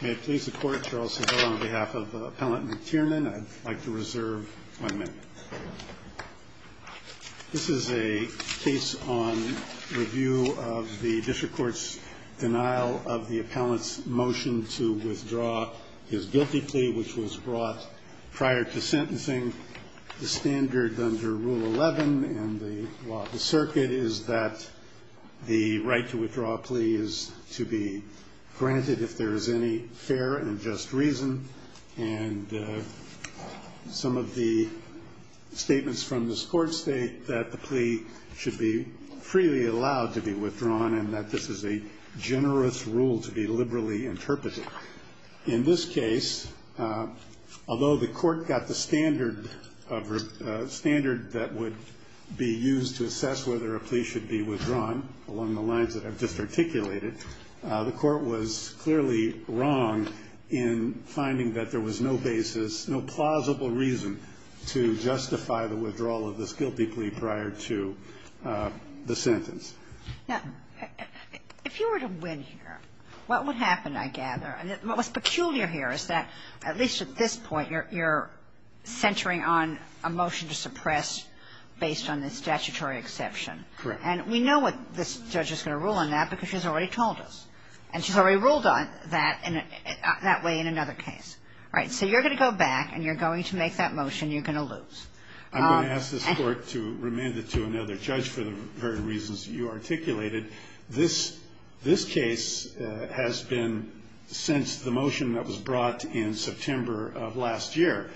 This is a case on review of the district court's denial of the appellant's motion to withdraw his guilty plea, which was brought prior to sentencing. The standard under Rule 11 and the law of the circuit is that the right to withdraw a plea is to be granted if there is any fair and just reason. And some of the statements from this court state that the plea should be freely allowed to be withdrawn and that this is a generous rule to be liberally interpreted. In this case, although the court got the standard that would be used to assess whether a plea should be withdrawn along the lines that I've just articulated, the court was clearly wrong in finding that there was no basis, no plausible reason to justify the withdrawal of this guilty plea prior to the sentence. Now, if you were to win here, what would happen, I gather, and what's peculiar here is that at least at this point you're centering on a motion to suppress based on the statutory exception. Correct. And we know what this judge is going to rule on that because she's already told us. And she's already ruled on that in a – that way in another case. All right. So you're going to go back and you're going to make that motion. You're going to lose. I'm going to ask this court to remand it to another judge for the very reasons you articulated. This case has been, since the motion that was brought in September of last year,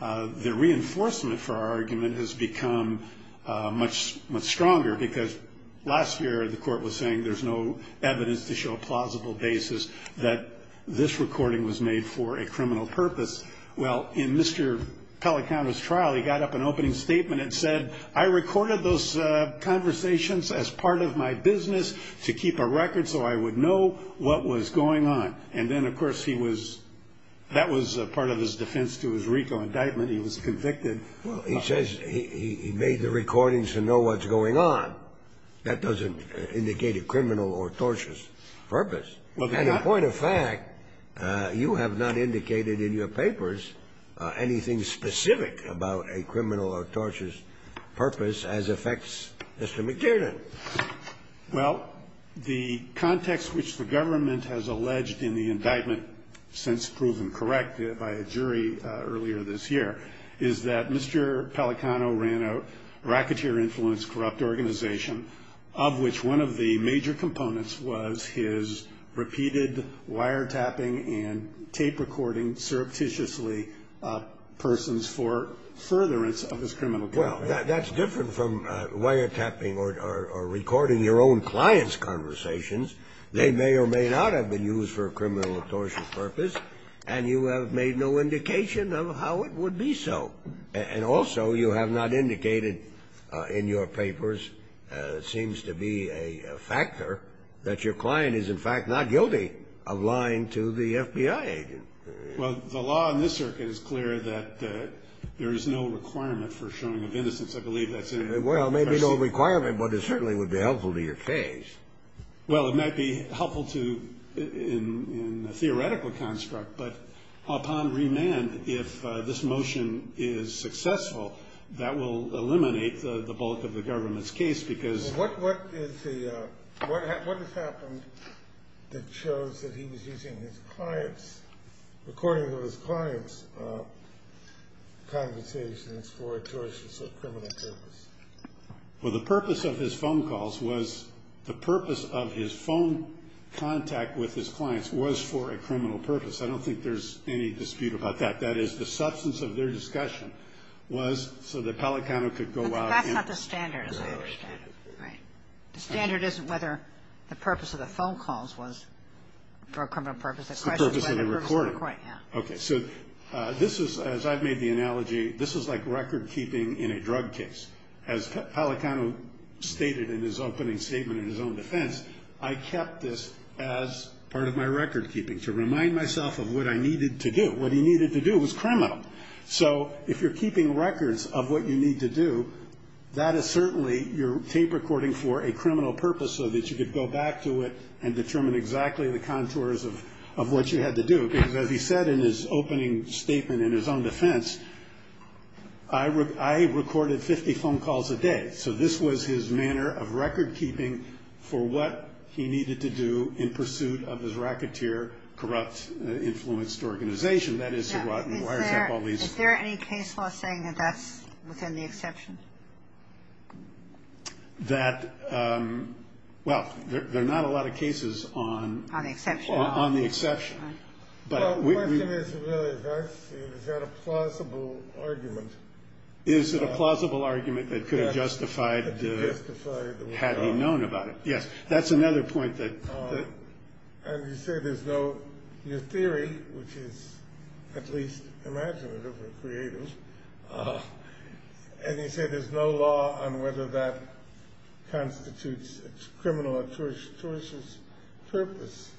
the reinforcement for our argument has become much stronger because last year the court was saying there's no evidence to show a plausible basis that this recording was made for a criminal purpose. Well, in Mr. Pellicano's trial he got up an opening statement and said, I recorded those conversations as part of my business to keep a record so I would know what was going on. And then, of course, he was – that was part of his defense to his RICO indictment. He was convicted. Well, he says he made the recordings to know what's going on. That doesn't indicate a criminal or tortious purpose. And a point of fact, you have not indicated in your papers anything specific about a criminal or tortious purpose as affects Mr. McKiernan. Well, the context which the government has alleged in the indictment, since proven correct by a jury earlier this year, is that Mr. Pellicano ran a racketeer-influenced corrupt organization, of which one of the major components was his repeated wiretapping and tape recording surreptitiously persons for furtherance of his criminal trial. Well, that's different from wiretapping or recording your own clients' conversations. They may or may not have been used for a criminal or tortious purpose, and you have made no indication of how it would be so. And also, you have not indicated in your papers, seems to be a factor, that your client is, in fact, not guilty of lying to the FBI agent. Well, the law in this circuit is clear that there is no requirement for showing of innocence. I believe that's in it. Well, maybe no requirement, but it certainly would be helpful to your case. Well, it might be helpful in a theoretical construct, but upon remand, if this motion is successful, that will eliminate the bulk of the government's case because- What has happened that shows that he was using his clients, recording of his clients' conversations for a tortious or criminal purpose? Well, the purpose of his phone calls was- The purpose of his phone contact with his clients was for a criminal purpose. I don't think there's any dispute about that. That is, the substance of their discussion was so that Pelicano could go out and- But that's not the standard, as I understand it, right? The standard isn't whether the purpose of the phone calls was for a criminal purpose. It's the purpose of the recording. Okay, so this is, as I've made the analogy, this is like record-keeping in a drug case. As Pelicano stated in his opening statement in his own defense, I kept this as part of my record-keeping to remind myself of what I needed to do. What he needed to do was criminal. So if you're keeping records of what you need to do, that is certainly your tape recording for a criminal purpose so that you could go back to it and determine exactly the contours of what you had to do. Because as he said in his opening statement in his own defense, I recorded 50 phone calls a day. So this was his manner of record-keeping for what he needed to do in pursuit of his racketeer, corrupt, influenced organization. That is, to wiretap all these- Is there any case law saying that that's within the exception? That, well, there are not a lot of cases on- On the exception. On the exception. Well, the question is, is that a plausible argument? Is it a plausible argument that could have justified- Could have justified- Had he known about it? Yes. That's another point that- And you say there's no new theory, which is at least imaginative or creative. And you say there's no law on whether that constitutes a criminal or tortious purpose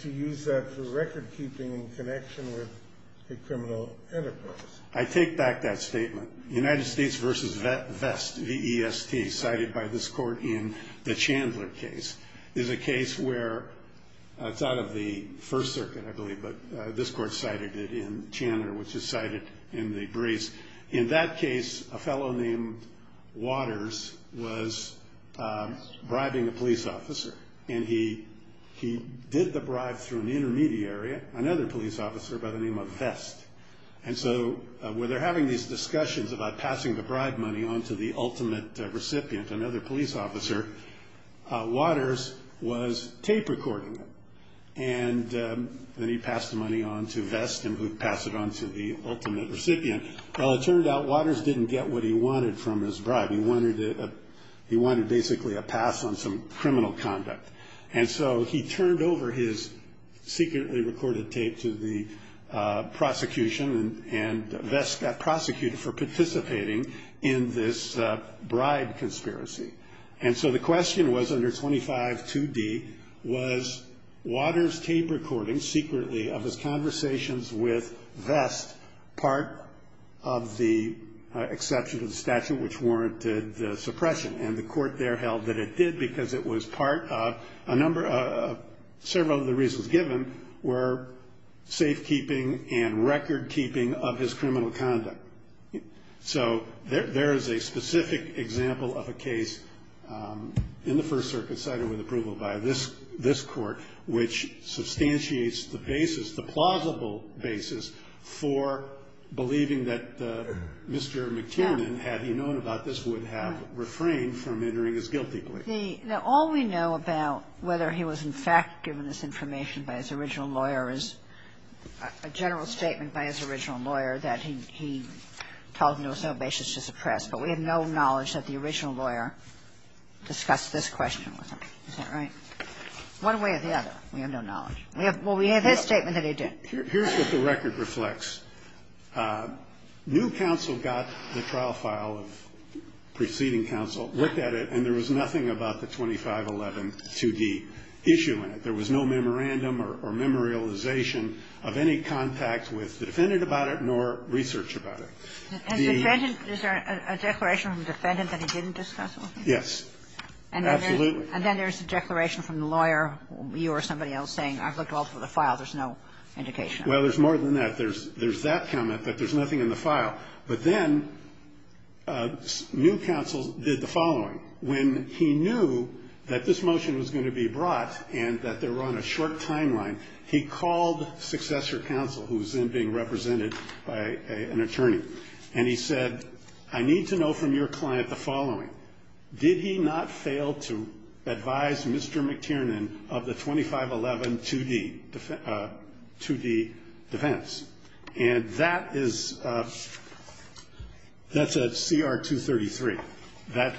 to use that for record-keeping in connection with a criminal enterprise. I take back that statement. United States v. Vest, V-E-S-T, cited by this court in the Chandler case, is a case where it's out of the First Circuit, I believe, but this court cited it in Chandler, which is cited in the Brace. In that case, a fellow named Waters was bribing a police officer, and he did the bribe through an intermediary, another police officer by the name of Vest. And so when they're having these discussions about passing the bribe money on to the ultimate recipient, another police officer, Waters was tape recording them. And then he passed the money on to Vest, and he would pass it on to the ultimate recipient. Well, it turned out Waters didn't get what he wanted from his bribe. He wanted basically a pass on some criminal conduct. And so he turned over his secretly recorded tape to the prosecution, and Vest got prosecuted for participating in this bribe conspiracy. And so the question was under 252D, was Waters' tape recording secretly of his conversations with Vest part of the exception to the statute which warranted the suppression? And the court there held that it did because it was part of a number of several of the reasons given were safekeeping and recordkeeping of his criminal conduct. So there is a specific example of a case in the First Circuit cited with approval by this Court which substantiates the basis, the plausible basis for believing that Mr. McTiernan, had he known about this, would have refrained from entering his guilty plea. Now, all we know about whether he was in fact given this information by his original lawyer is a general statement by his original lawyer that he told him there was no basis to suppress. But we have no knowledge that the original lawyer discussed this question with him. Is that right? One way or the other, we have no knowledge. Well, we have his statement that he did. Here's what the record reflects. New counsel got the trial file of preceding counsel, looked at it, and there was nothing about the 25112D issue in it. There was no memorandum or memorialization of any contact with the defendant about it nor research about it. And the defendant, is there a declaration from the defendant that he didn't discuss it with you? Yes. Absolutely. And then there's a declaration from the lawyer, you or somebody else, saying, I've looked all through the file. There's no indication of it. Well, there's more than that. But then new counsel did the following. When he knew that this motion was going to be brought and that they were on a short timeline, he called successor counsel, who was then being represented by an attorney. And he said, I need to know from your client the following. Did he not fail to advise Mr. McTiernan of the 25112D defense? And that is at CR 233. That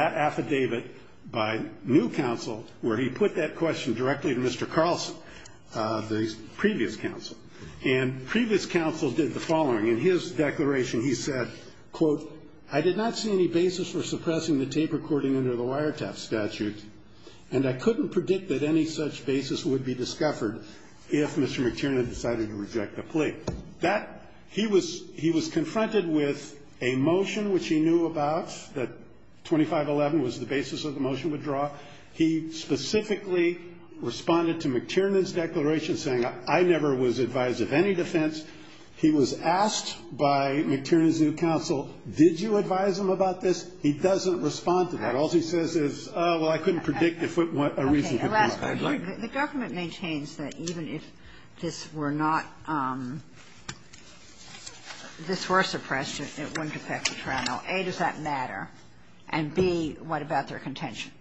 affidavit by new counsel where he put that question directly to Mr. Carlson, the previous counsel. And previous counsel did the following. In his declaration, he said, quote, I did not see any basis for suppressing the tape recording under the wiretap statute, and I couldn't predict that any such basis would be discovered if Mr. McTiernan had decided to reject the plea. That he was he was confronted with a motion which he knew about, that 2511 was the basis of the motion withdraw. He specifically responded to McTiernan's declaration saying, I never was advised of any defense. He was asked by McTiernan's new counsel, did you advise him about this? He doesn't respond to that. All he says is, oh, well, I couldn't predict if a reason could be a guideline. The government maintains that even if this were not this were suppressed, it wouldn't affect the trial. Now, A, does that matter? And B, what about their contention?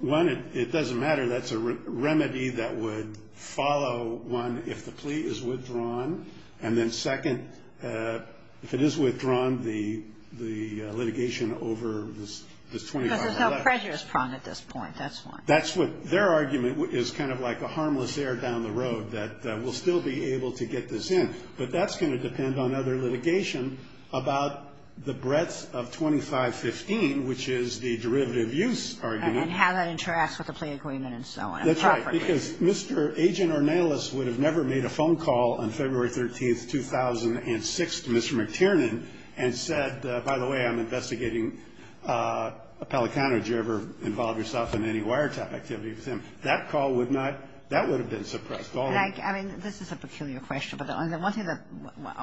One, it doesn't matter. That's a remedy that would follow, one, if the plea is withdrawn. And then second, if it is withdrawn, the litigation over this 2511. Because there's no prejudice prong at this point. That's one. That's what their argument is kind of like a harmless air down the road. That we'll still be able to get this in. But that's going to depend on other litigation about the breadth of 2515, which is the derivative use argument. And how that interacts with the plea agreement and so on. That's right. Because Mr. Agent Ornelas would have never made a phone call on February 13, 2006 to Mr. McTiernan and said, by the way, I'm investigating a Pelicano. Did you ever involve yourself in any wiretap activity with him? That call would not, that would have been suppressed. And I, I mean, this is a peculiar question. But the one thing that,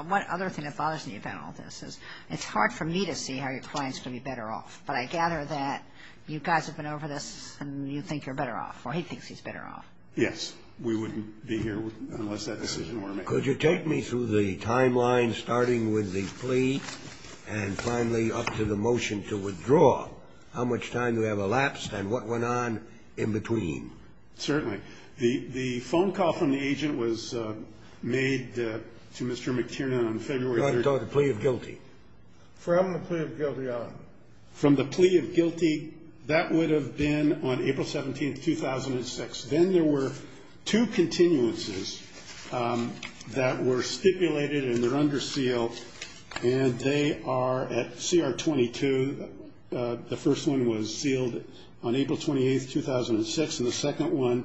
one other thing that bothers me about all this is it's hard for me to see how your client's going to be better off. But I gather that you guys have been over this and you think you're better off. Or he thinks he's better off. Yes. We wouldn't be here unless that decision were made. Could you take me through the timeline starting with the plea and finally up to the motion to withdraw, how much time do we have elapsed and what went on in between? Certainly. The, the phone call from the agent was made to Mr. McTiernan on February 13. You're talking about the plea of guilty. From the plea of guilty on. From the plea of guilty, that would have been on April 17, 2006. Then there were two continuances that were stipulated and they're under seal. And they are at CR 22. The first one was sealed on April 28, 2006. And the second one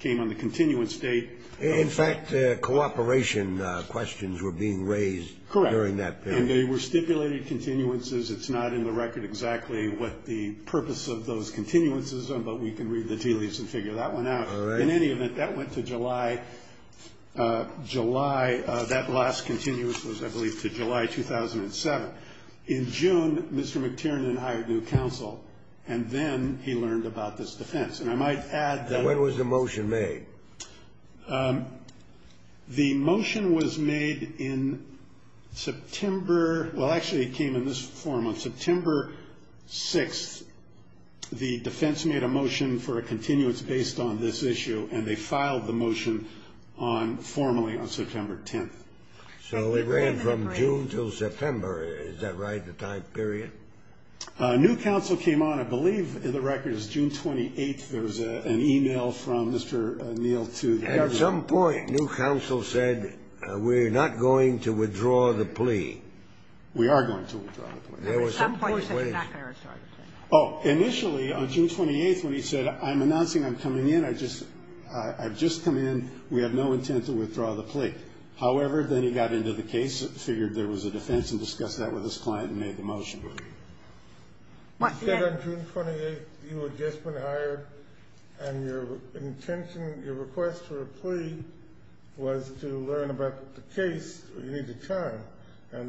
came on the continuance date. In fact, cooperation questions were being raised during that period. Correct. And they were stipulated continuances. It's not in the record exactly what the purpose of those continuances are. All right. In any event, that went to July, July. That last continuance was, I believe, to July 2007. In June, Mr. McTiernan hired new counsel. And then he learned about this defense. And I might add that. When was the motion made? The motion was made in September. Well, actually, it came in this form. On September 6th, the defense made a motion for a continuance based on this issue. And they filed the motion formally on September 10th. So it ran from June to September. Is that right? The time period? New counsel came on, I believe, in the record. It was June 28th. There was an email from Mr. Neal. At some point, new counsel said, we're not going to withdraw the plea. We are going to withdraw the plea. At some point, he said, we're not going to withdraw the plea. Oh, initially, on June 28th, when he said, I'm announcing I'm coming in. I've just come in. We have no intent to withdraw the plea. However, then he got into the case, figured there was a defense, and discussed that with his client and made the motion. You said on June 28th, you had just been hired. And your intention, your request for a plea was to learn about the case. You needed time. And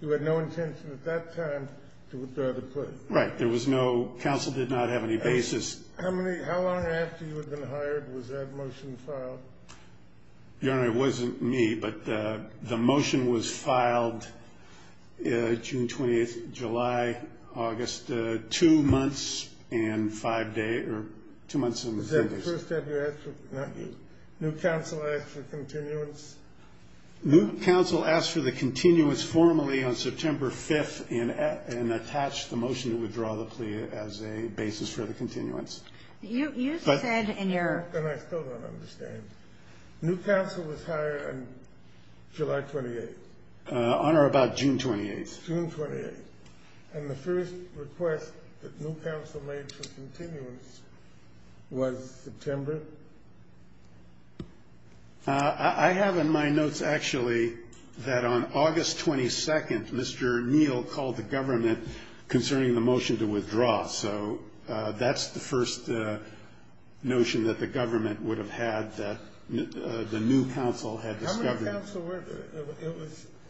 you had no intention at that time to withdraw the plea. Right. There was no, counsel did not have any basis. How long after you had been hired was that motion filed? Your Honor, it wasn't me. But the motion was filed June 28th, July, August. Two months and five days, or two months and three days. Not you. New counsel asked for continuance. New counsel asked for the continuance formally on September 5th and attached the motion to withdraw the plea as a basis for the continuance. You said in your... And I still don't understand. New counsel was hired on July 28th. On or about June 28th? June 28th. And the first request that new counsel made for continuance was September? I have in my notes actually that on August 22nd, Mr. Neal called the government concerning the motion to withdraw. So that's the first notion that the government would have had that the new counsel had discovered. How many counsel were there?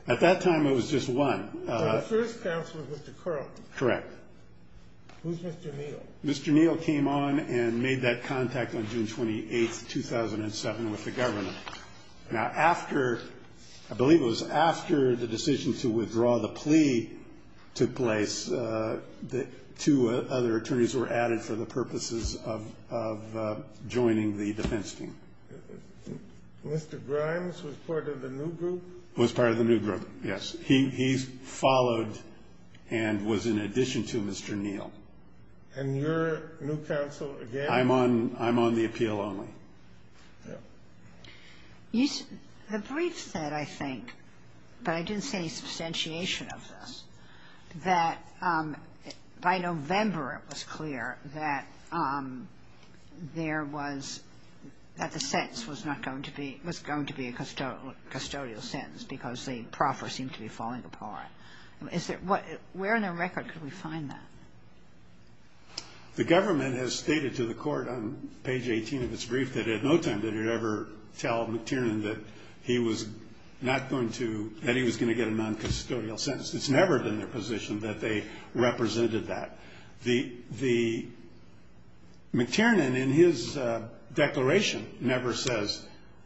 At that time, it was just one. So the first counsel was Mr. Curran? Correct. Who's Mr. Neal? Mr. Neal came on and made that contact on June 28th, 2007 with the government. Now after, I believe it was after the decision to withdraw the plea took place, two other attorneys were added for the purposes of joining the defense team. Mr. Grimes was part of the new group? Was part of the new group, yes. He followed and was in addition to Mr. Neal. And your new counsel again? I'm on the appeal only. The brief said, I think, but I didn't see any substantiation of this, that by November it was clear that there was, that the sentence was not going to be, was going to be a custodial sentence because the proffer seemed to be falling apart. Is there, where in the record could we find that? The government has stated to the court on page 18 of its brief that at no time did it ever tell McTiernan that he was not going to, that he was going to get a noncustodial sentence. It's never been their position that they represented that. The, McTiernan in his declaration never says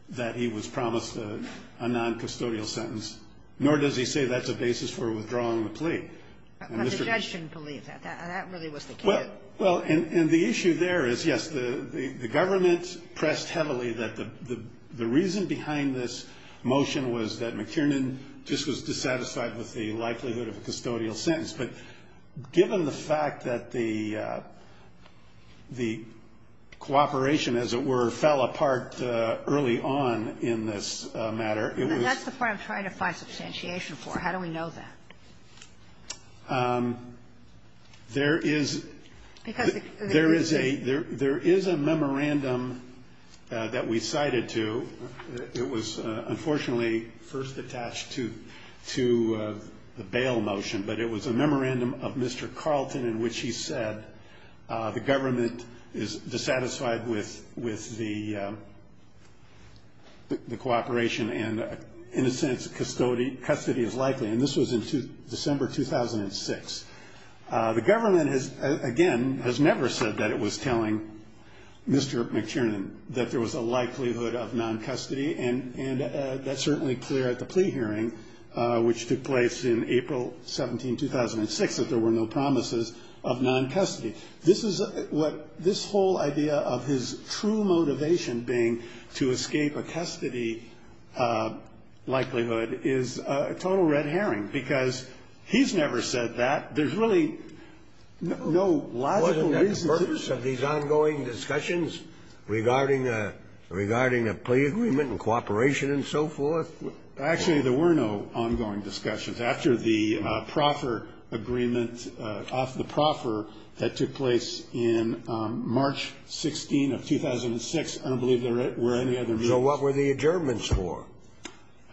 that he was promised a noncustodial sentence, nor does he say that's a basis for withdrawing the plea. But the judge didn't believe that. That really was the case. Well, and the issue there is, yes, the government pressed heavily that the reason behind this motion was that McTiernan just was dissatisfied with the likelihood of a custodial sentence. But given the fact that the cooperation, as it were, fell apart early on in this matter, it was. That's the part I'm trying to find substantiation for. How do we know that? There is a, there is a memorandum that we cited to. It was unfortunately first attached to the bail motion, but it was a memorandum of Mr. Carlton in which he said that the government is dissatisfied with the cooperation and in a sense custody is likely. And this was in December 2006. The government has, again, has never said that it was telling Mr. McTiernan that there was a likelihood of noncustody. And that's certainly clear at the plea hearing, which took place in April 17, 2006, that there were no promises of noncustody. This is what, this whole idea of his true motivation being to escape a custody likelihood is a total red herring because he's never said that. There's really no logical reason to. Wasn't that the purpose of these ongoing discussions regarding a, regarding a plea agreement and cooperation and so forth? Actually, there were no ongoing discussions. After the proffer agreement, off the proffer, that took place in March 16 of 2006, I don't believe there were any other meetings. So what were the adjournments for?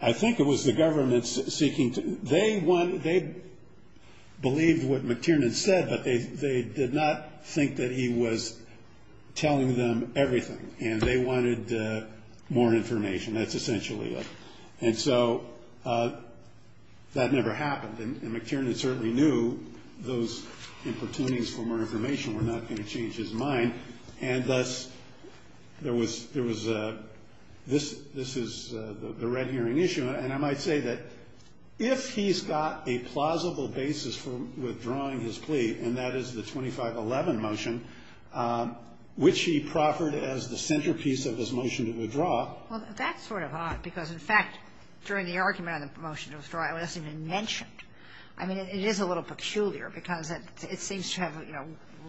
I think it was the government seeking to, they wanted, they believed what McTiernan said, but they did not think that he was telling them everything and they wanted more information. That's essentially it. And so that never happened. And McTiernan certainly knew those importunities for more information were not going to change his mind. And thus, there was a, this is the red herring issue. And I might say that if he's got a plausible basis for withdrawing his plea, and that is the 2511 motion, which he proffered as the centerpiece of his motion to withdraw. Well, that's sort of odd because, in fact, during the argument on the motion to withdraw, it wasn't even mentioned. I mean, it is a little peculiar because it seems to have, you know,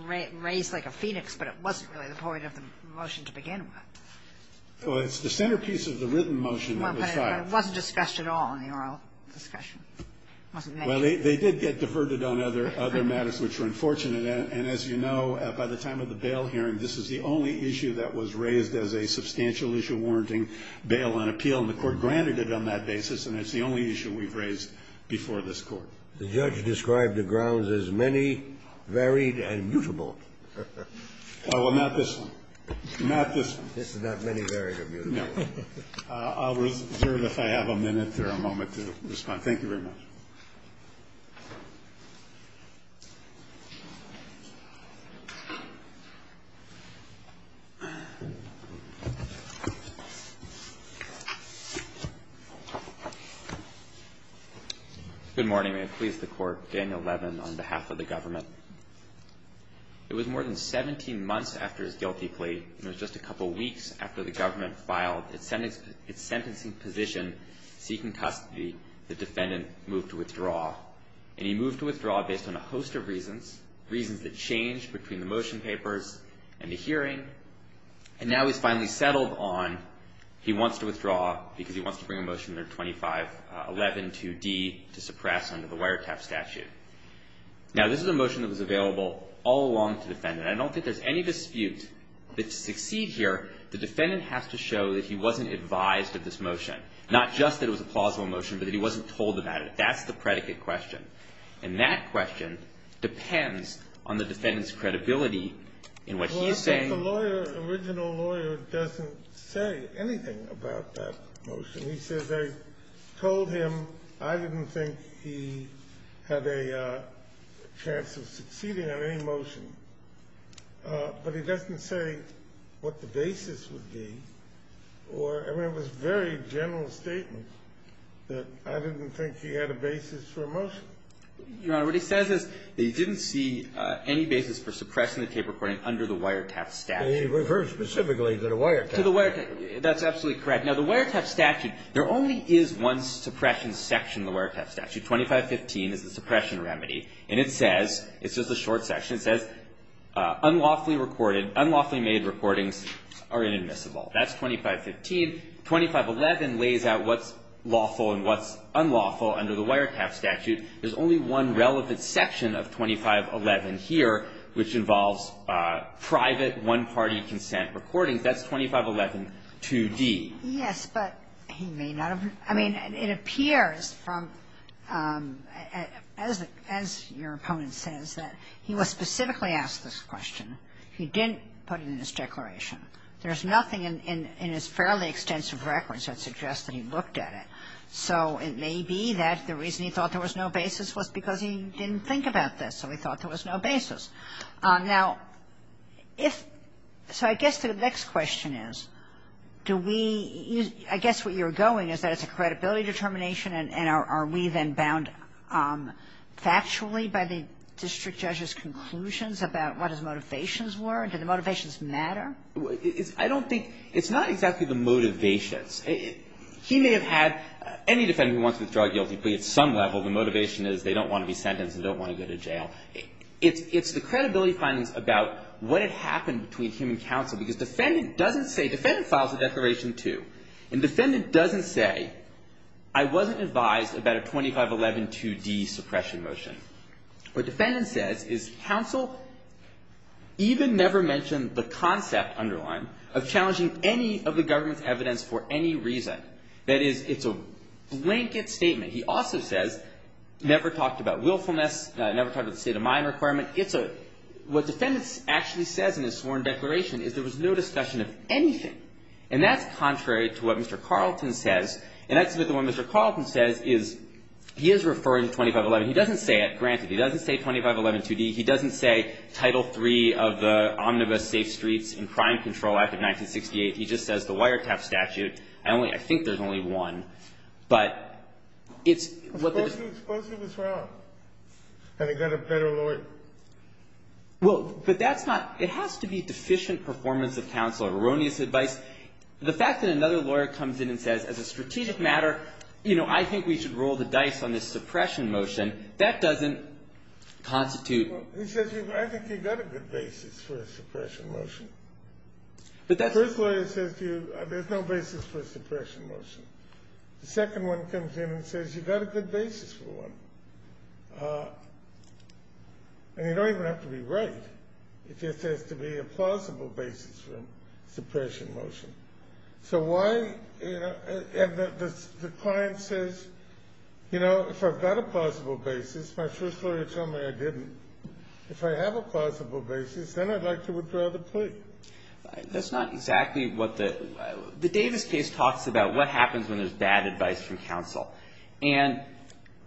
raised like a phoenix, but it wasn't really the point of the motion to begin with. Well, it's the centerpiece of the written motion that was filed. Well, but it wasn't discussed at all in the oral discussion. It wasn't mentioned. Well, they did get diverted on other matters which were unfortunate. And as you know, by the time of the bail hearing, this is the only issue that was raised as a substantial issue warranting bail on appeal. And the Court granted it on that basis, and it's the only issue we've raised before this Court. The judge described the grounds as many, varied, and mutable. Well, not this one. Not this one. This is not many, varied, or mutable. No. I'll reserve, if I have a minute or a moment to respond. Thank you very much. Thank you. Good morning. May it please the Court. Daniel Levin on behalf of the government. It was more than 17 months after his guilty plea, and it was just a couple weeks after the government filed its sentencing position seeking custody. The defendant moved to withdraw. And he moved to withdraw based on a host of reasons, reasons that changed between the motion papers and the hearing. And now he's finally settled on he wants to withdraw because he wants to bring a motion under 25112D to suppress under the wiretap statute. Now, this is a motion that was available all along to the defendant. I don't think there's any dispute that to succeed here, the defendant has to show that he wasn't advised of this motion, not just that it was a plausible motion, but that he wasn't told about it. That's the predicate question. And that question depends on the defendant's credibility in what he's saying. Well, I think the lawyer, original lawyer, doesn't say anything about that motion. He says they told him I didn't think he had a chance of succeeding on any motion. But he doesn't say what the basis would be. Or, I mean, it was a very general statement that I didn't think he had a basis for a motion. Your Honor, what he says is that he didn't see any basis for suppressing the tape recording under the wiretap statute. He refers specifically to the wiretap. To the wiretap. That's absolutely correct. Now, the wiretap statute, there only is one suppression section in the wiretap statute. 2515 is the suppression remedy. And it says, it's just a short section. It says, unlawfully recorded, unlawfully made recordings are inadmissible. That's 2515. 2511 lays out what's lawful and what's unlawful under the wiretap statute. There's only one relevant section of 2511 here, which involves private, one-party consent recordings. That's 2511 2d. Yes, but he may not have. I mean, it appears from, as your opponent says, that he was specifically asked this question. He didn't put it in his declaration. There's nothing in his fairly extensive records that suggests that he looked at it. So it may be that the reason he thought there was no basis was because he didn't think about this. So he thought there was no basis. Now, if so, I guess the next question is, do we, I guess what you're going is that it's a credibility determination, and are we then bound factually by the district judge's conclusions about what his motivations were? Do the motivations matter? I don't think, it's not exactly the motivations. He may have had, any defendant who wants to withdraw a guilty plea at some level, the motivation is they don't want to be sentenced, they don't want to go to jail. It's the credibility findings about what had happened between him and counsel, because defendant doesn't say, defendant files a declaration, too, and defendant doesn't say, I wasn't advised about a 2511 2d suppression motion. What defendant says is counsel even never mentioned the concept underlined of challenging any of the government's evidence for any reason. That is, it's a blanket statement. He also says, never talked about willfulness, never talked about the state of mind requirement. It's a, what defendant actually says in his sworn declaration is there was no discussion of anything, and that's contrary to what Mr. Carlton says, and that's the one Mr. Carlton says is, he is referring to 2511. He doesn't say it, granted. He doesn't say 2511 2d. He doesn't say Title III of the Omnibus Safe Streets and Crime Control Act of 1968. He just says the wiretap statute. I only, I think there's only one. But it's, what the. Suppose he was wrong, and he got a better lawyer. Well, but that's not, it has to be deficient performance of counsel, erroneous advice. The fact that another lawyer comes in and says, as a strategic matter, you know, I think we should roll the dice on this suppression motion, that doesn't constitute. Well, he says, I think you've got a good basis for a suppression motion. But that's. The first lawyer says to you, there's no basis for a suppression motion. The second one comes in and says, you've got a good basis for one. And you don't even have to be right. It just has to be a plausible basis for a suppression motion. So why, you know, and the client says, you know, if I've got a plausible basis, my first lawyer told me I didn't. If I have a plausible basis, then I'd like to withdraw the plea. That's not exactly what the, the Davis case talks about what happens when there's bad advice from counsel. And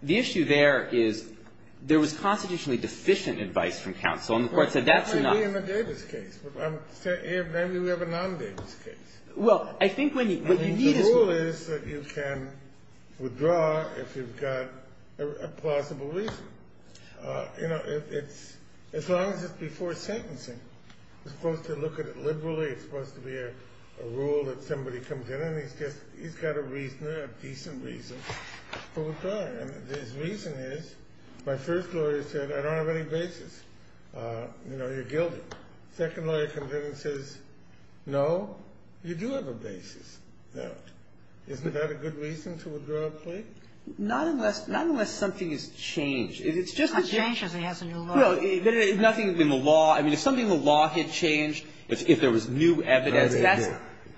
the issue there is there was constitutionally deficient advice from counsel, and the Court said that's enough. Maybe we have a non-Davis case. Well, I think what you need is. The rule is that you can withdraw if you've got a plausible reason. You know, as long as it's before sentencing, you're supposed to look at it liberally. It's supposed to be a rule that somebody comes in and he's got a reason, a decent reason to withdraw. And his reason is, my first lawyer said, I don't have any basis. You know, you're guilty. Second lawyer comes in and says, no, you do have a basis. Now, isn't that a good reason to withdraw a plea? Not unless, not unless something is changed. It's just that. Not changed if he has a new law. Nothing in the law. I mean, if something in the law had changed, if there was new evidence, that's.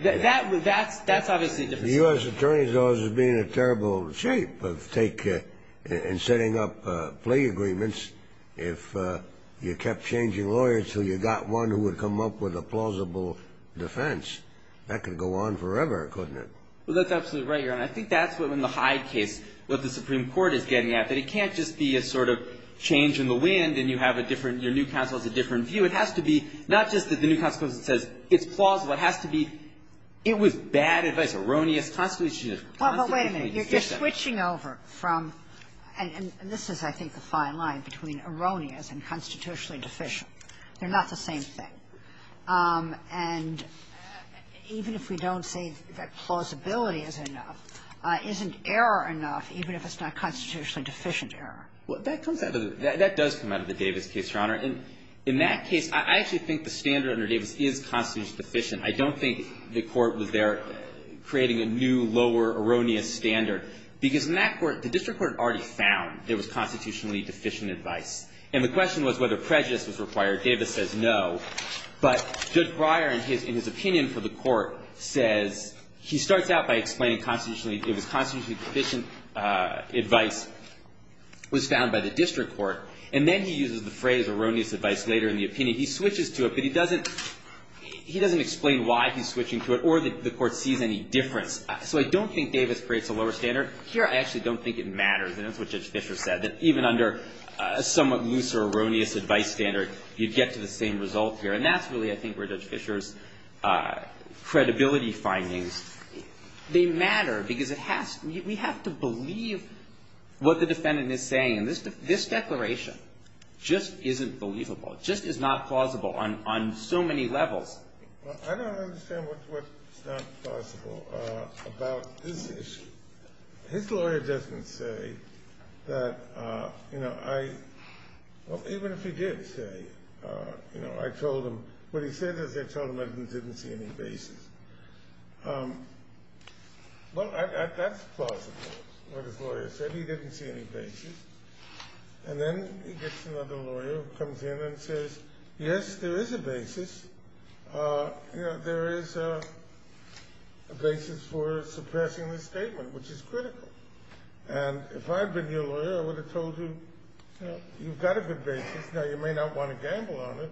That would, that's, that's obviously. The U.S. attorney's office would be in a terrible shape of taking and setting up plea agreements if you kept changing lawyers until you got one who would come up with a plausible defense. That could go on forever, couldn't it? Well, that's absolutely right, Your Honor. I think that's what, in the Hyde case, what the Supreme Court is getting at, that it can't just be a sort of change in the wind and you have a different, your new counsel has a different view. It has to be not just that the new counsel says it's plausible. It has to be, it was bad advice, erroneous. Well, but wait a minute. You're switching over from, and this is, I think, the fine line between erroneous and constitutionally deficient. They're not the same thing. And even if we don't say that plausibility is enough, isn't error enough even if it's not constitutionally deficient error? Well, that comes out of the, that does come out of the Davis case, Your Honor. And in that case, I actually think the standard under Davis is constitutionally deficient. I don't think the court was there creating a new, lower, erroneous standard. Because in that court, the district court already found it was constitutionally deficient advice. And the question was whether prejudice was required. Davis says no. But Judge Breyer, in his opinion for the court, says, he starts out by explaining constitutionally, it was constitutionally deficient advice was found by the district court. And then he uses the phrase erroneous advice later in the opinion. He switches to it. But he doesn't, he doesn't explain why he's switching to it or the court sees any difference. So I don't think Davis creates a lower standard. Here, I actually don't think it matters. And that's what Judge Fischer said, that even under a somewhat looser erroneous advice standard, you'd get to the same result here. And that's really, I think, where Judge Fischer's credibility findings, they matter. Because it has, we have to believe what the defendant is saying. And this declaration just isn't believable. It just is not plausible on so many levels. Well, I don't understand what's not plausible about this issue. His lawyer doesn't say that, you know, I, well, even if he did say, you know, I told him, what he said is I told him I didn't see any basis. Well, that's plausible, what his lawyer said. He didn't see any basis. And then he gets another lawyer who comes in and says, yes, there is a basis. You know, there is a basis for suppressing this statement, which is critical. And if I had been your lawyer, I would have told you, you know, you've got a good basis. Now, you may not want to gamble on it,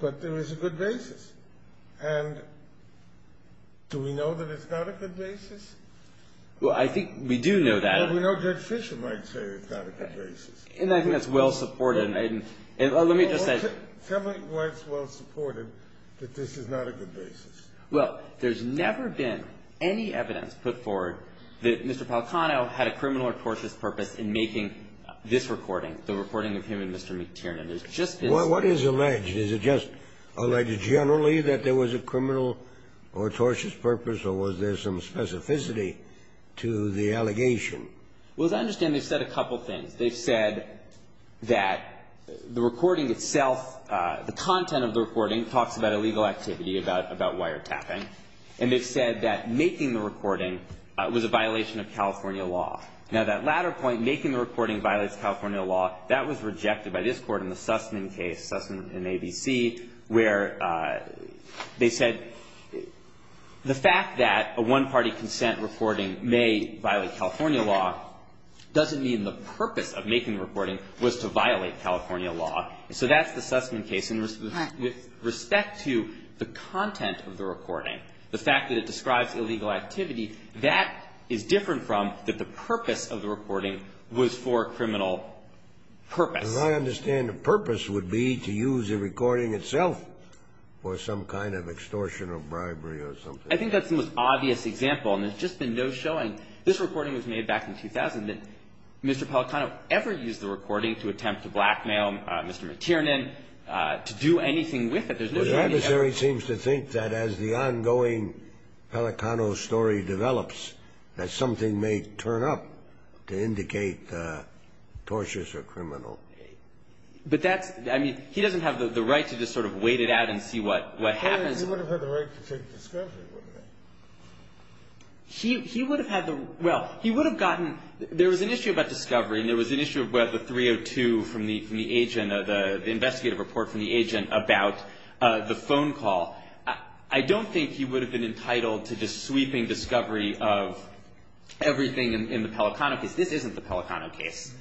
but there is a good basis. And do we know that it's not a good basis? Well, I think we do know that. Well, we know Judge Fischer might say it's not a good basis. And I think that's well supported. And let me just say. Tell me why it's well supported that this is not a good basis. Well, there's never been any evidence put forward that Mr. Palacano had a criminal or tortious purpose in making this recording, the recording of him and Mr. McTiernan. There's just been. Well, what is alleged? Is it just alleged generally that there was a criminal or tortious purpose, or was there some specificity to the allegation? Well, as I understand, they've said a couple things. They've said that the recording itself, the content of the recording talks about illegal activity, about wiretapping. And they've said that making the recording was a violation of California law. Now, that latter point, making the recording violates California law, that was rejected by this Court in the Sussman case, Sussman v. ABC, where they said the fact that a one-party consent recording may violate California law doesn't mean the purpose of making the recording was to violate California law. So that's the Sussman case. And with respect to the content of the recording, the fact that it describes illegal activity, that is different from that the purpose of the recording was for a criminal purpose. As I understand, the purpose would be to use the recording itself for some kind of extortion or bribery or something. I think that's the most obvious example. And there's just been no showing. This recording was made back in 2000. Did Mr. Pelicano ever use the recording to attempt to blackmail Mr. Matiernan to do anything with it? There's no evidence of it. Well, the adversary seems to think that as the ongoing Pelicano story develops, that something may turn up to indicate tortious or criminal. But that's – I mean, he doesn't have the right to just sort of wait it out and see what happens. He would have had the right to take discovery, wouldn't he? He would have had the – well, he would have gotten – there was an issue about discovery, and there was an issue about the 302 from the agent, the investigative report from the agent about the phone call. I don't think he would have been entitled to just sweeping discovery of everything in the Pelicano case. This isn't the Pelicano case.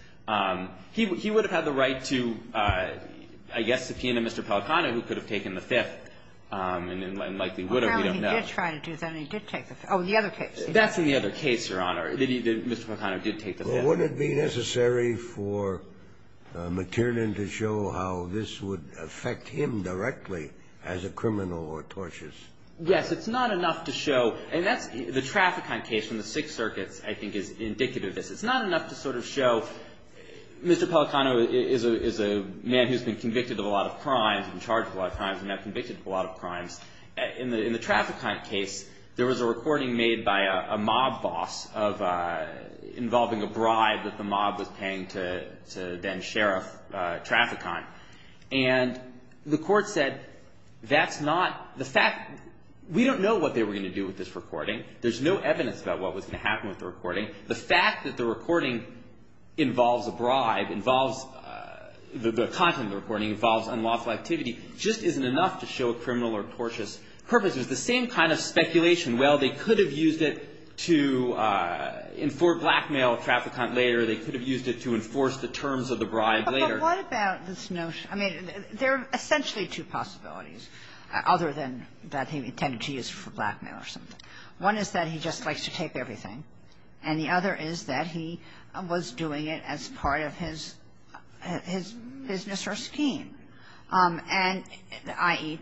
He would have had the right to, I guess, subpoena Mr. Pelicano, who could have taken the Fifth, and likely would have, we don't know. Well, he did try to do that. He did take the – oh, the other case. That's in the other case, Your Honor, that Mr. Pelicano did take the Fifth. Well, would it be necessary for Matiernan to show how this would affect him directly as a criminal or tortious? Yes. It's not enough to show – and that's – the Trafficon case from the Sixth Circuit, I think, is indicative of this. It's not enough to sort of show Mr. Pelicano is a man who's been convicted of a lot of crimes and charged with a lot of crimes and not convicted of a lot of crimes. In the Trafficon case, there was a recording made by a mob boss involving a bribe that the mob was paying to then-sheriff Trafficon. And the court said that's not – the fact – we don't know what they were going to do with this recording. There's no evidence about what was going to happen with the recording. The fact that the recording involves a bribe, involves – the content of the recording involves unlawful activity, just isn't enough to show a criminal or tortious purpose. It was the same kind of speculation. Well, they could have used it to inform blackmail Trafficon later. They could have used it to enforce the terms of the bribe later. But what about this notion – I mean, there are essentially two possibilities other than that he intended to use it for blackmail or something. One is that he just likes to take everything, and the other is that he was doing it as part of his business or scheme. And – i.e.,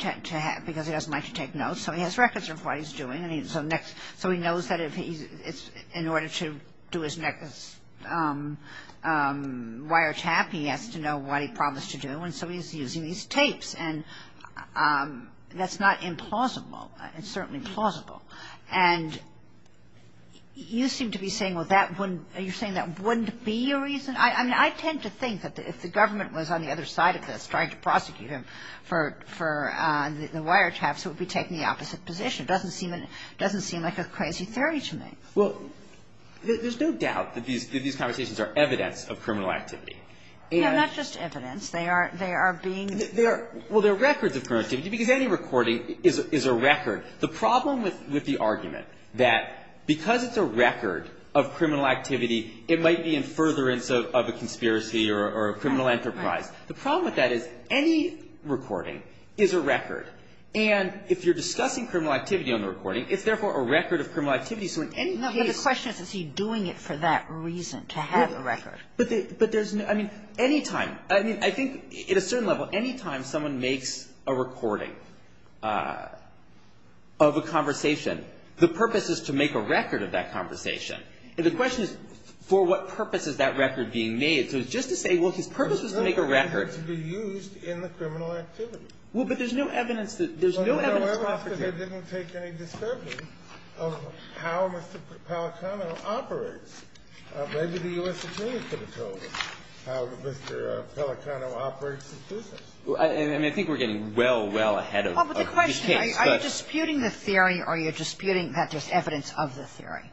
because he doesn't like to take notes, so he has records of what he's doing. So he knows that if he – in order to do his next wiretap, he has to know what he promised to do. And so he's using these tapes. And that's not implausible. It's certainly plausible. And you seem to be saying, well, that wouldn't – you're saying that wouldn't be a reason? I mean, I tend to think that if the government was on the other side of this trying to prosecute him for the wiretaps, it would be taking the opposite position. It doesn't seem like a crazy theory to me. Well, there's no doubt that these conversations are evidence of criminal activity. Yeah, not just evidence. They are being – Well, they're records of criminal activity, because any recording is a record. The problem with the argument that because it's a record of criminal activity, it might be in furtherance of a conspiracy or a criminal enterprise, the problem with that is any recording is a record. And if you're discussing criminal activity on the recording, it's therefore a record of criminal activity. So in any case – No, but the question is, is he doing it for that reason, to have a record? But there's – I mean, any time – I mean, I think at a certain level, any time someone makes a recording of a conversation, the purpose is to make a record of that conversation. And the question is, for what purpose is that record being made? So it's just to say, well, his purpose was to make a record. It's not going to be used in the criminal activity. Well, but there's no evidence that – there's no evidence – Well, I mean, I think we're getting well, well ahead of the case. Well, but the question is, are you disputing the theory or are you disputing that there's evidence of the theory?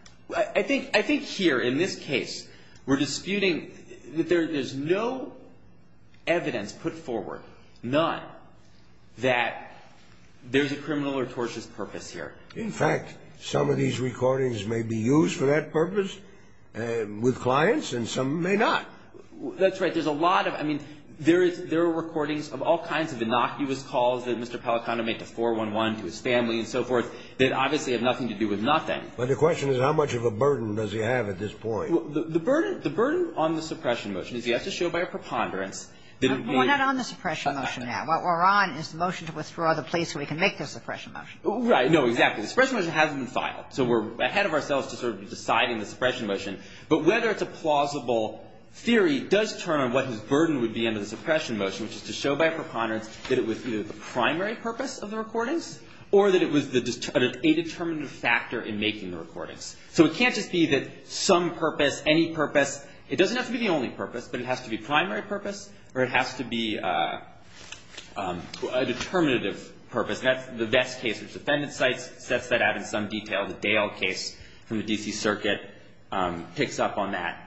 I think here, in this case, we're disputing that there's no evidence put forward, none, that there's a criminal or tortious purpose here. In fact, some of these recordings may be used for that purpose with clients and some may not. That's right. There's a lot of – I mean, there is – there are recordings of all kinds of innocuous calls that Mr. Pellicano made to 411, to his family and so forth, that obviously have nothing to do with nothing. But the question is, how much of a burden does he have at this point? The burden – the burden on the suppression motion is he has to show by a preponderance that it may – We're not on the suppression motion now. What we're on is the motion to withdraw the plea so we can make the suppression motion. Right. No, exactly. The suppression motion hasn't been filed. So we're ahead of ourselves to sort of deciding the suppression motion. But whether it's a plausible theory does turn on what his burden would be under the suppression motion, which is to show by a preponderance that it was either the primary purpose of the recordings or that it was the – an indeterminate factor in making the recordings. So it can't just be that some purpose, any purpose – it doesn't have to be the only purpose, but it has to be primary purpose or it has to be a determinative purpose. And that's the Vest case, which the defendant's side sets that out in some detail. The Dale case from the D.C. Circuit picks up on that.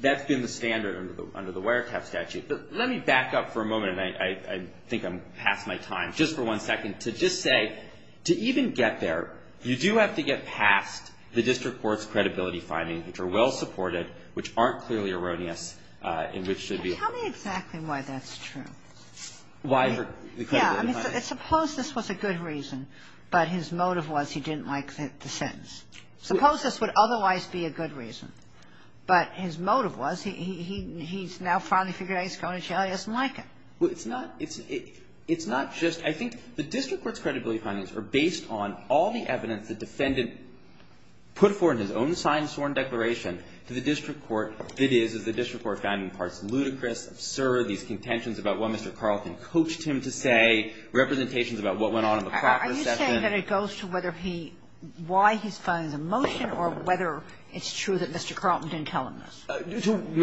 That's been the standard under the Wiretap statute. But let me back up for a moment, and I think I'm past my time, just for one second, to just say, to even get there, you do have to get past the district court's credibility findings, which are clearly erroneous, and which should be – Tell me exactly why that's true. Why the credibility findings? Yeah. I mean, suppose this was a good reason, but his motive was he didn't like the sentence. Suppose this would otherwise be a good reason, but his motive was he's now finally figured out he's going to jail, he doesn't like it. Well, it's not – it's not just – I think the district court's credibility findings are based on all the evidence the defendant put forth in his own signed sworn declaration to the district court. It is, as the district court found in parts, ludicrous, absurd, these contentions about what Mr. Carlton coached him to say, representations about what went on in the practice session. Are you saying that it goes to whether he – why he's filing the motion or whether it's true that Mr. Carlton didn't tell him this? To what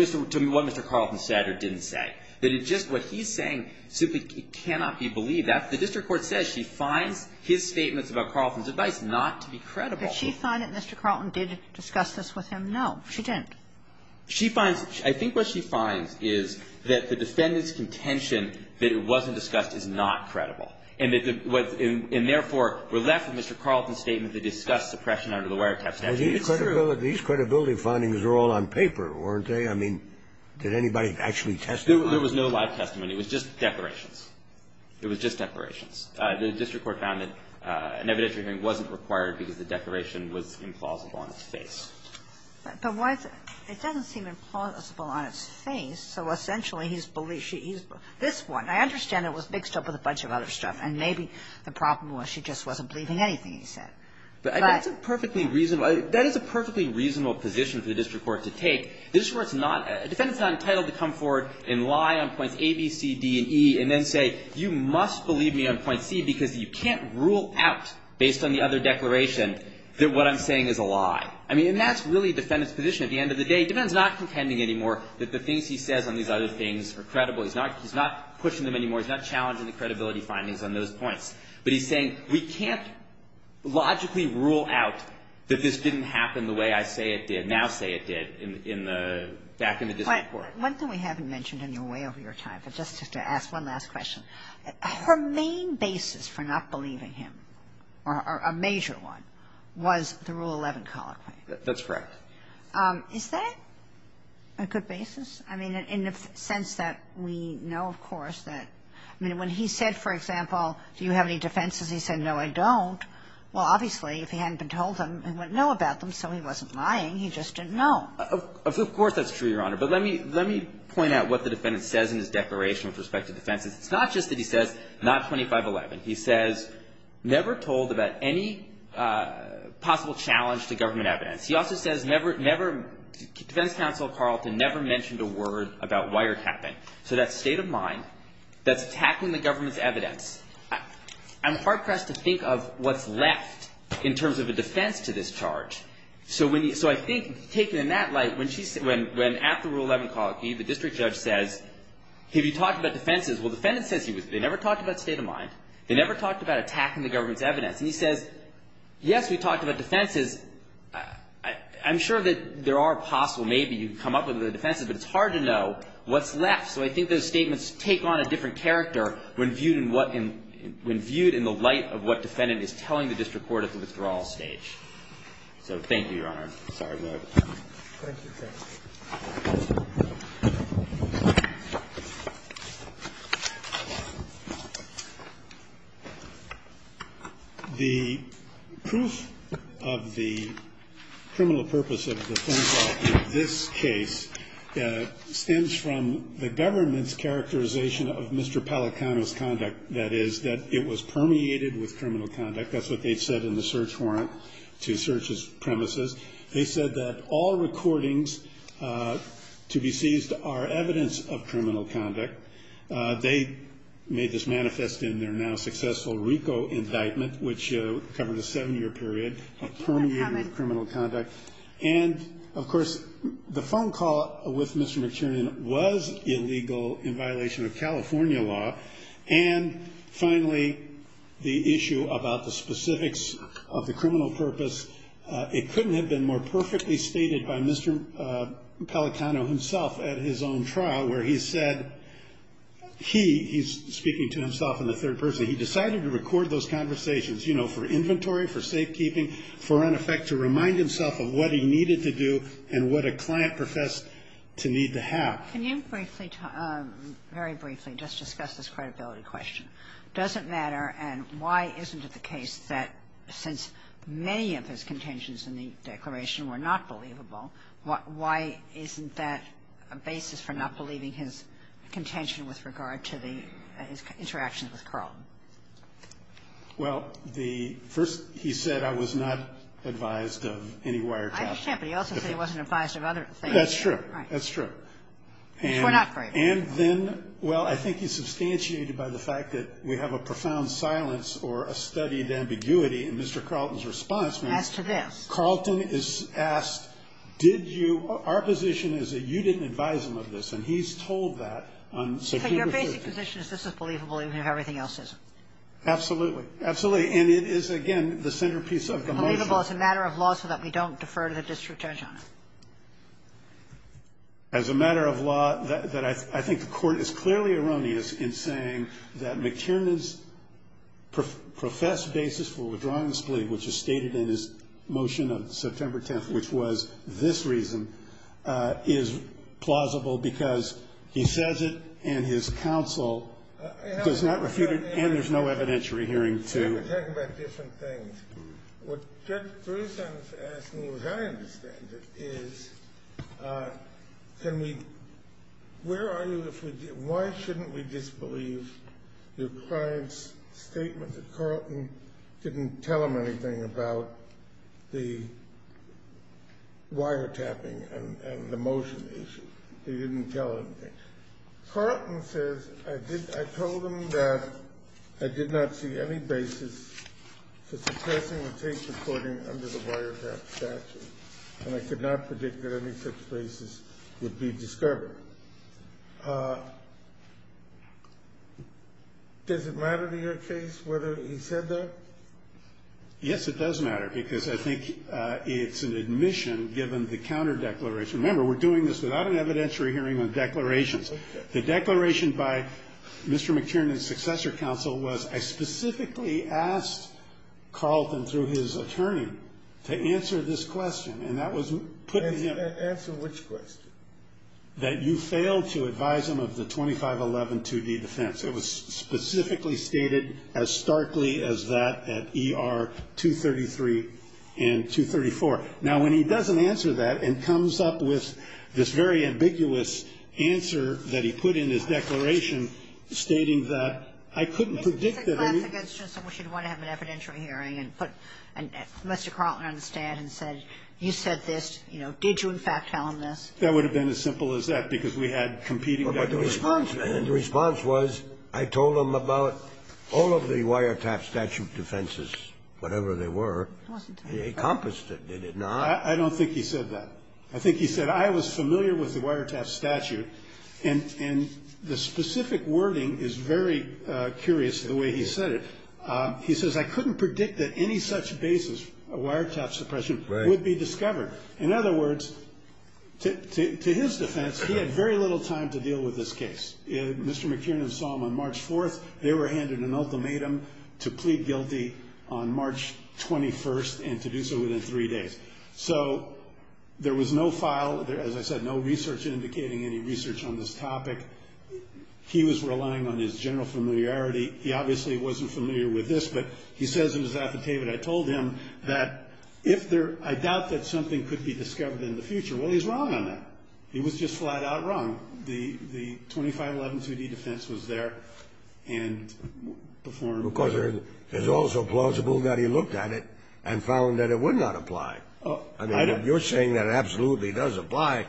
Mr. Carlton said or didn't say. That it just – what he's saying simply cannot be believed. The district court says she finds his statements about Carlton's advice not to be credible. Did she find that Mr. Carlton did discuss this with him? No, she didn't. She finds – I think what she finds is that the defendant's contention that it wasn't discussed is not credible, and that the – and therefore, we're left with Mr. Carlton's statement that he discussed suppression under the wiretap statute. It's true. These credibility findings are all on paper, weren't they? I mean, did anybody actually testify? There was no live testimony. It was just declarations. It was just declarations. The district court found that an evidentiary hearing wasn't required because the declaration was implausible on its face. But why is it? It doesn't seem implausible on its face. So essentially, he's – this one, I understand it was mixed up with a bunch of other stuff, and maybe the problem was she just wasn't believing anything he said. But I mean, that's a perfectly reasonable – that is a perfectly reasonable position for the district court to take. The district court's not – a defendant's not entitled to come forward and lie on points A, B, C, D, and E, and then say you must believe me on point C because you can't rule out, based on the other declaration, that what I'm saying is a lie. I mean, and that's really a defendant's position. At the end of the day, the defendant's not contending anymore that the things he says on these other things are credible. He's not – he's not pushing them anymore. He's not challenging the credibility findings on those points. But he's saying we can't logically rule out that this didn't happen the way I say it did, now say it did in the – back in the district court. But one thing we haven't mentioned in your way over your time, but just to ask one last question, her main basis for not believing him, or a major one, was the Rule 11 colloquy. That's correct. Is that a good basis? I mean, in the sense that we know, of course, that – I mean, when he said, for example, do you have any defenses, he said, no, I don't. Well, obviously, if he hadn't been told them and wouldn't know about them, so he wasn't lying. He just didn't know. Of course that's true, Your Honor. But let me – let me point out what the defendant says in his declaration with respect to defenses. It's not just that he says, not 2511. He says, never told about any possible challenge to government evidence. He also says never – defense counsel Carlton never mentioned a word about wiretapping. So that's state of mind. That's attacking the government's evidence. I'm hard-pressed to think of what's left in terms of a defense to this charge. So when – so I think, taken in that light, when she – when, at the Rule 11 colloquy, the district judge says, have you talked about defenses? Well, the defendant says he was – they never talked about state of mind. They never talked about attacking the government's evidence. And he says, yes, we talked about defenses. I'm sure that there are possible – maybe you can come up with the defenses, but it's hard to know what's left. So I think those statements take on a different character when viewed in what – when viewed in the light of what defendant is telling the district court at the withdrawal stage. So thank you, Your Honor. Sorry about that. Thank you. The proof of the criminal purpose of defense law in this case stems from the government's characterization of Mr. Pellicano's conduct, that is, that it was permeated with criminal conduct. That's what they said in the search warrant to search his premises. They said that all recordings to be seized are evidence of criminal conduct. They made this manifest in their now-successful RICO indictment, which covered a seven-year period of permeated criminal conduct. And, of course, the phone call with Mr. McTiernan was illegal in violation of specifics of the criminal purpose. It couldn't have been more perfectly stated by Mr. Pellicano himself at his own trial where he said he – he's speaking to himself in the third person – he decided to record those conversations, you know, for inventory, for safekeeping, for, in effect, to remind himself of what he needed to do and what a client professed to need to have. Can you briefly – very briefly just discuss this credibility question? Does it matter? And why isn't it the case that since many of his contentions in the declaration were not believable, why isn't that a basis for not believing his contention with regard to the – his interaction with Carlton? Well, the – first, he said I was not advised of any wiretapping. I understand, but he also said he wasn't advised of other things. That's true. Right. That's true. Which we're not very aware of. And then, well, I think he's substantiated by the fact that we have a profound silence or a studied ambiguity in Mr. Carlton's response. As to this. Carlton is asked, did you – our position is that you didn't advise him of this, and he's told that on September 15th. But your basic position is this is believable even if everything else isn't. Absolutely. And it is, again, the centerpiece of the motion. Believable as a matter of law so that we don't defer to the district judge on it. As a matter of law, I think the Court is clearly erroneous in saying that McTiernan's professed basis for withdrawing this plea, which is stated in his motion of September 10th, which was this reason, is plausible because he says it and his counsel does not refute it and there's no evidentiary hearing to it. We're talking about different things. What Judge Berusan is asking, as I understand it, is can we – where are you if we – why shouldn't we disbelieve your client's statement that Carlton didn't tell him anything about the wiretapping and the motion issue? He didn't tell anything. Carlton says, I told him that I did not see any basis for suppressing the tape recording under the wiretap statute, and I could not predict that any such basis would be discovered. Does it matter to your case whether he said that? Yes, it does matter because I think it's an admission given the counter-declaration. Remember, we're doing this without an evidentiary hearing on declarations. The declaration by Mr. McTiernan's successor counsel was I specifically asked Carlton through his attorney to answer this question, and that was putting him – Answer which question? That you failed to advise him of the 25112D defense. It was specifically stated as starkly as that at ER 233 and 234. Now, when he doesn't answer that and comes up with this very ambiguous answer that he put in his declaration stating that I couldn't predict that any – It's a classic instance in which you'd want to have an evidentiary hearing and put Mr. Carlton on the stand and said, you said this, you know, did you in fact tell him this? That would have been as simple as that because we had competing declarations. But the response – and the response was I told him about all of the wiretap statute defenses, whatever they were. It wasn't tape. He encompassed it, did it not? I don't think he said that. I think he said I was familiar with the wiretap statute. And the specific wording is very curious the way he said it. He says I couldn't predict that any such basis of wiretap suppression would be discovered. In other words, to his defense, he had very little time to deal with this case. Mr. McTiernan saw him on March 4th. They were handed an ultimatum to plead guilty on March 21st and to do so within three days. So there was no file, as I said, no research indicating any research on this topic. He was relying on his general familiarity. He obviously wasn't familiar with this, but he says in his affidavit I told him that if there – I doubt that something could be discovered in the future. Well, he's wrong on that. He was just flat out wrong. The 25112D defense was there and before him. Because it's also plausible that he looked at it and found that it would not apply. I mean, you're saying that it absolutely does apply,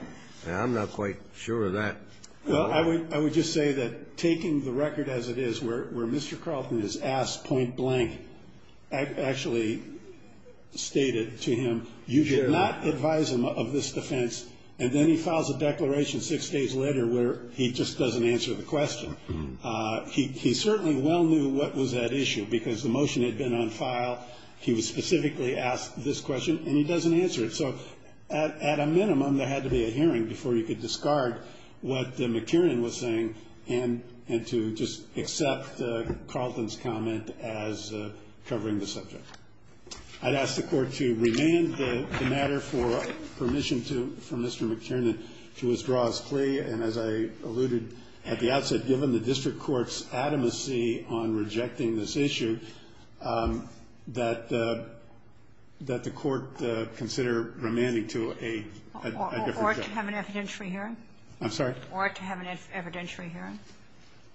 and I'm not quite sure of that. Well, I would just say that taking the record as it is, where Mr. Carlton is asked point blank, I actually stated to him you did not advise him of this defense, and then he files a declaration six days later where he just doesn't answer the question. He certainly well knew what was at issue, because the motion had been on file, he was specifically asked this question, and he doesn't answer it. So at a minimum, there had to be a hearing before you could discard what McKeeran was saying and to just accept Carlton's comment as covering the subject. I'd ask the Court to remand the matter for permission from Mr. McKeeran to withdraw his plea, and as I alluded at the outset, given the district court's adamancy on rejecting this issue, that the Court consider remanding to a different judge. Or to have an evidentiary hearing? I'm sorry? Or to have an evidentiary hearing?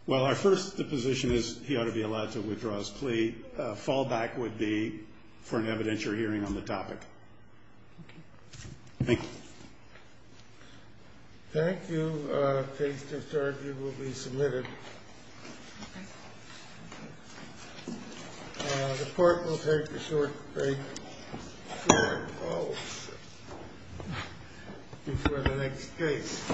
Well, our first position is he ought to be allowed to withdraw his plea. The fallback would be for an evidentiary hearing on the topic. Thank you. Thank you. Case discharged. You will be submitted. The Court will take a short break before the next case.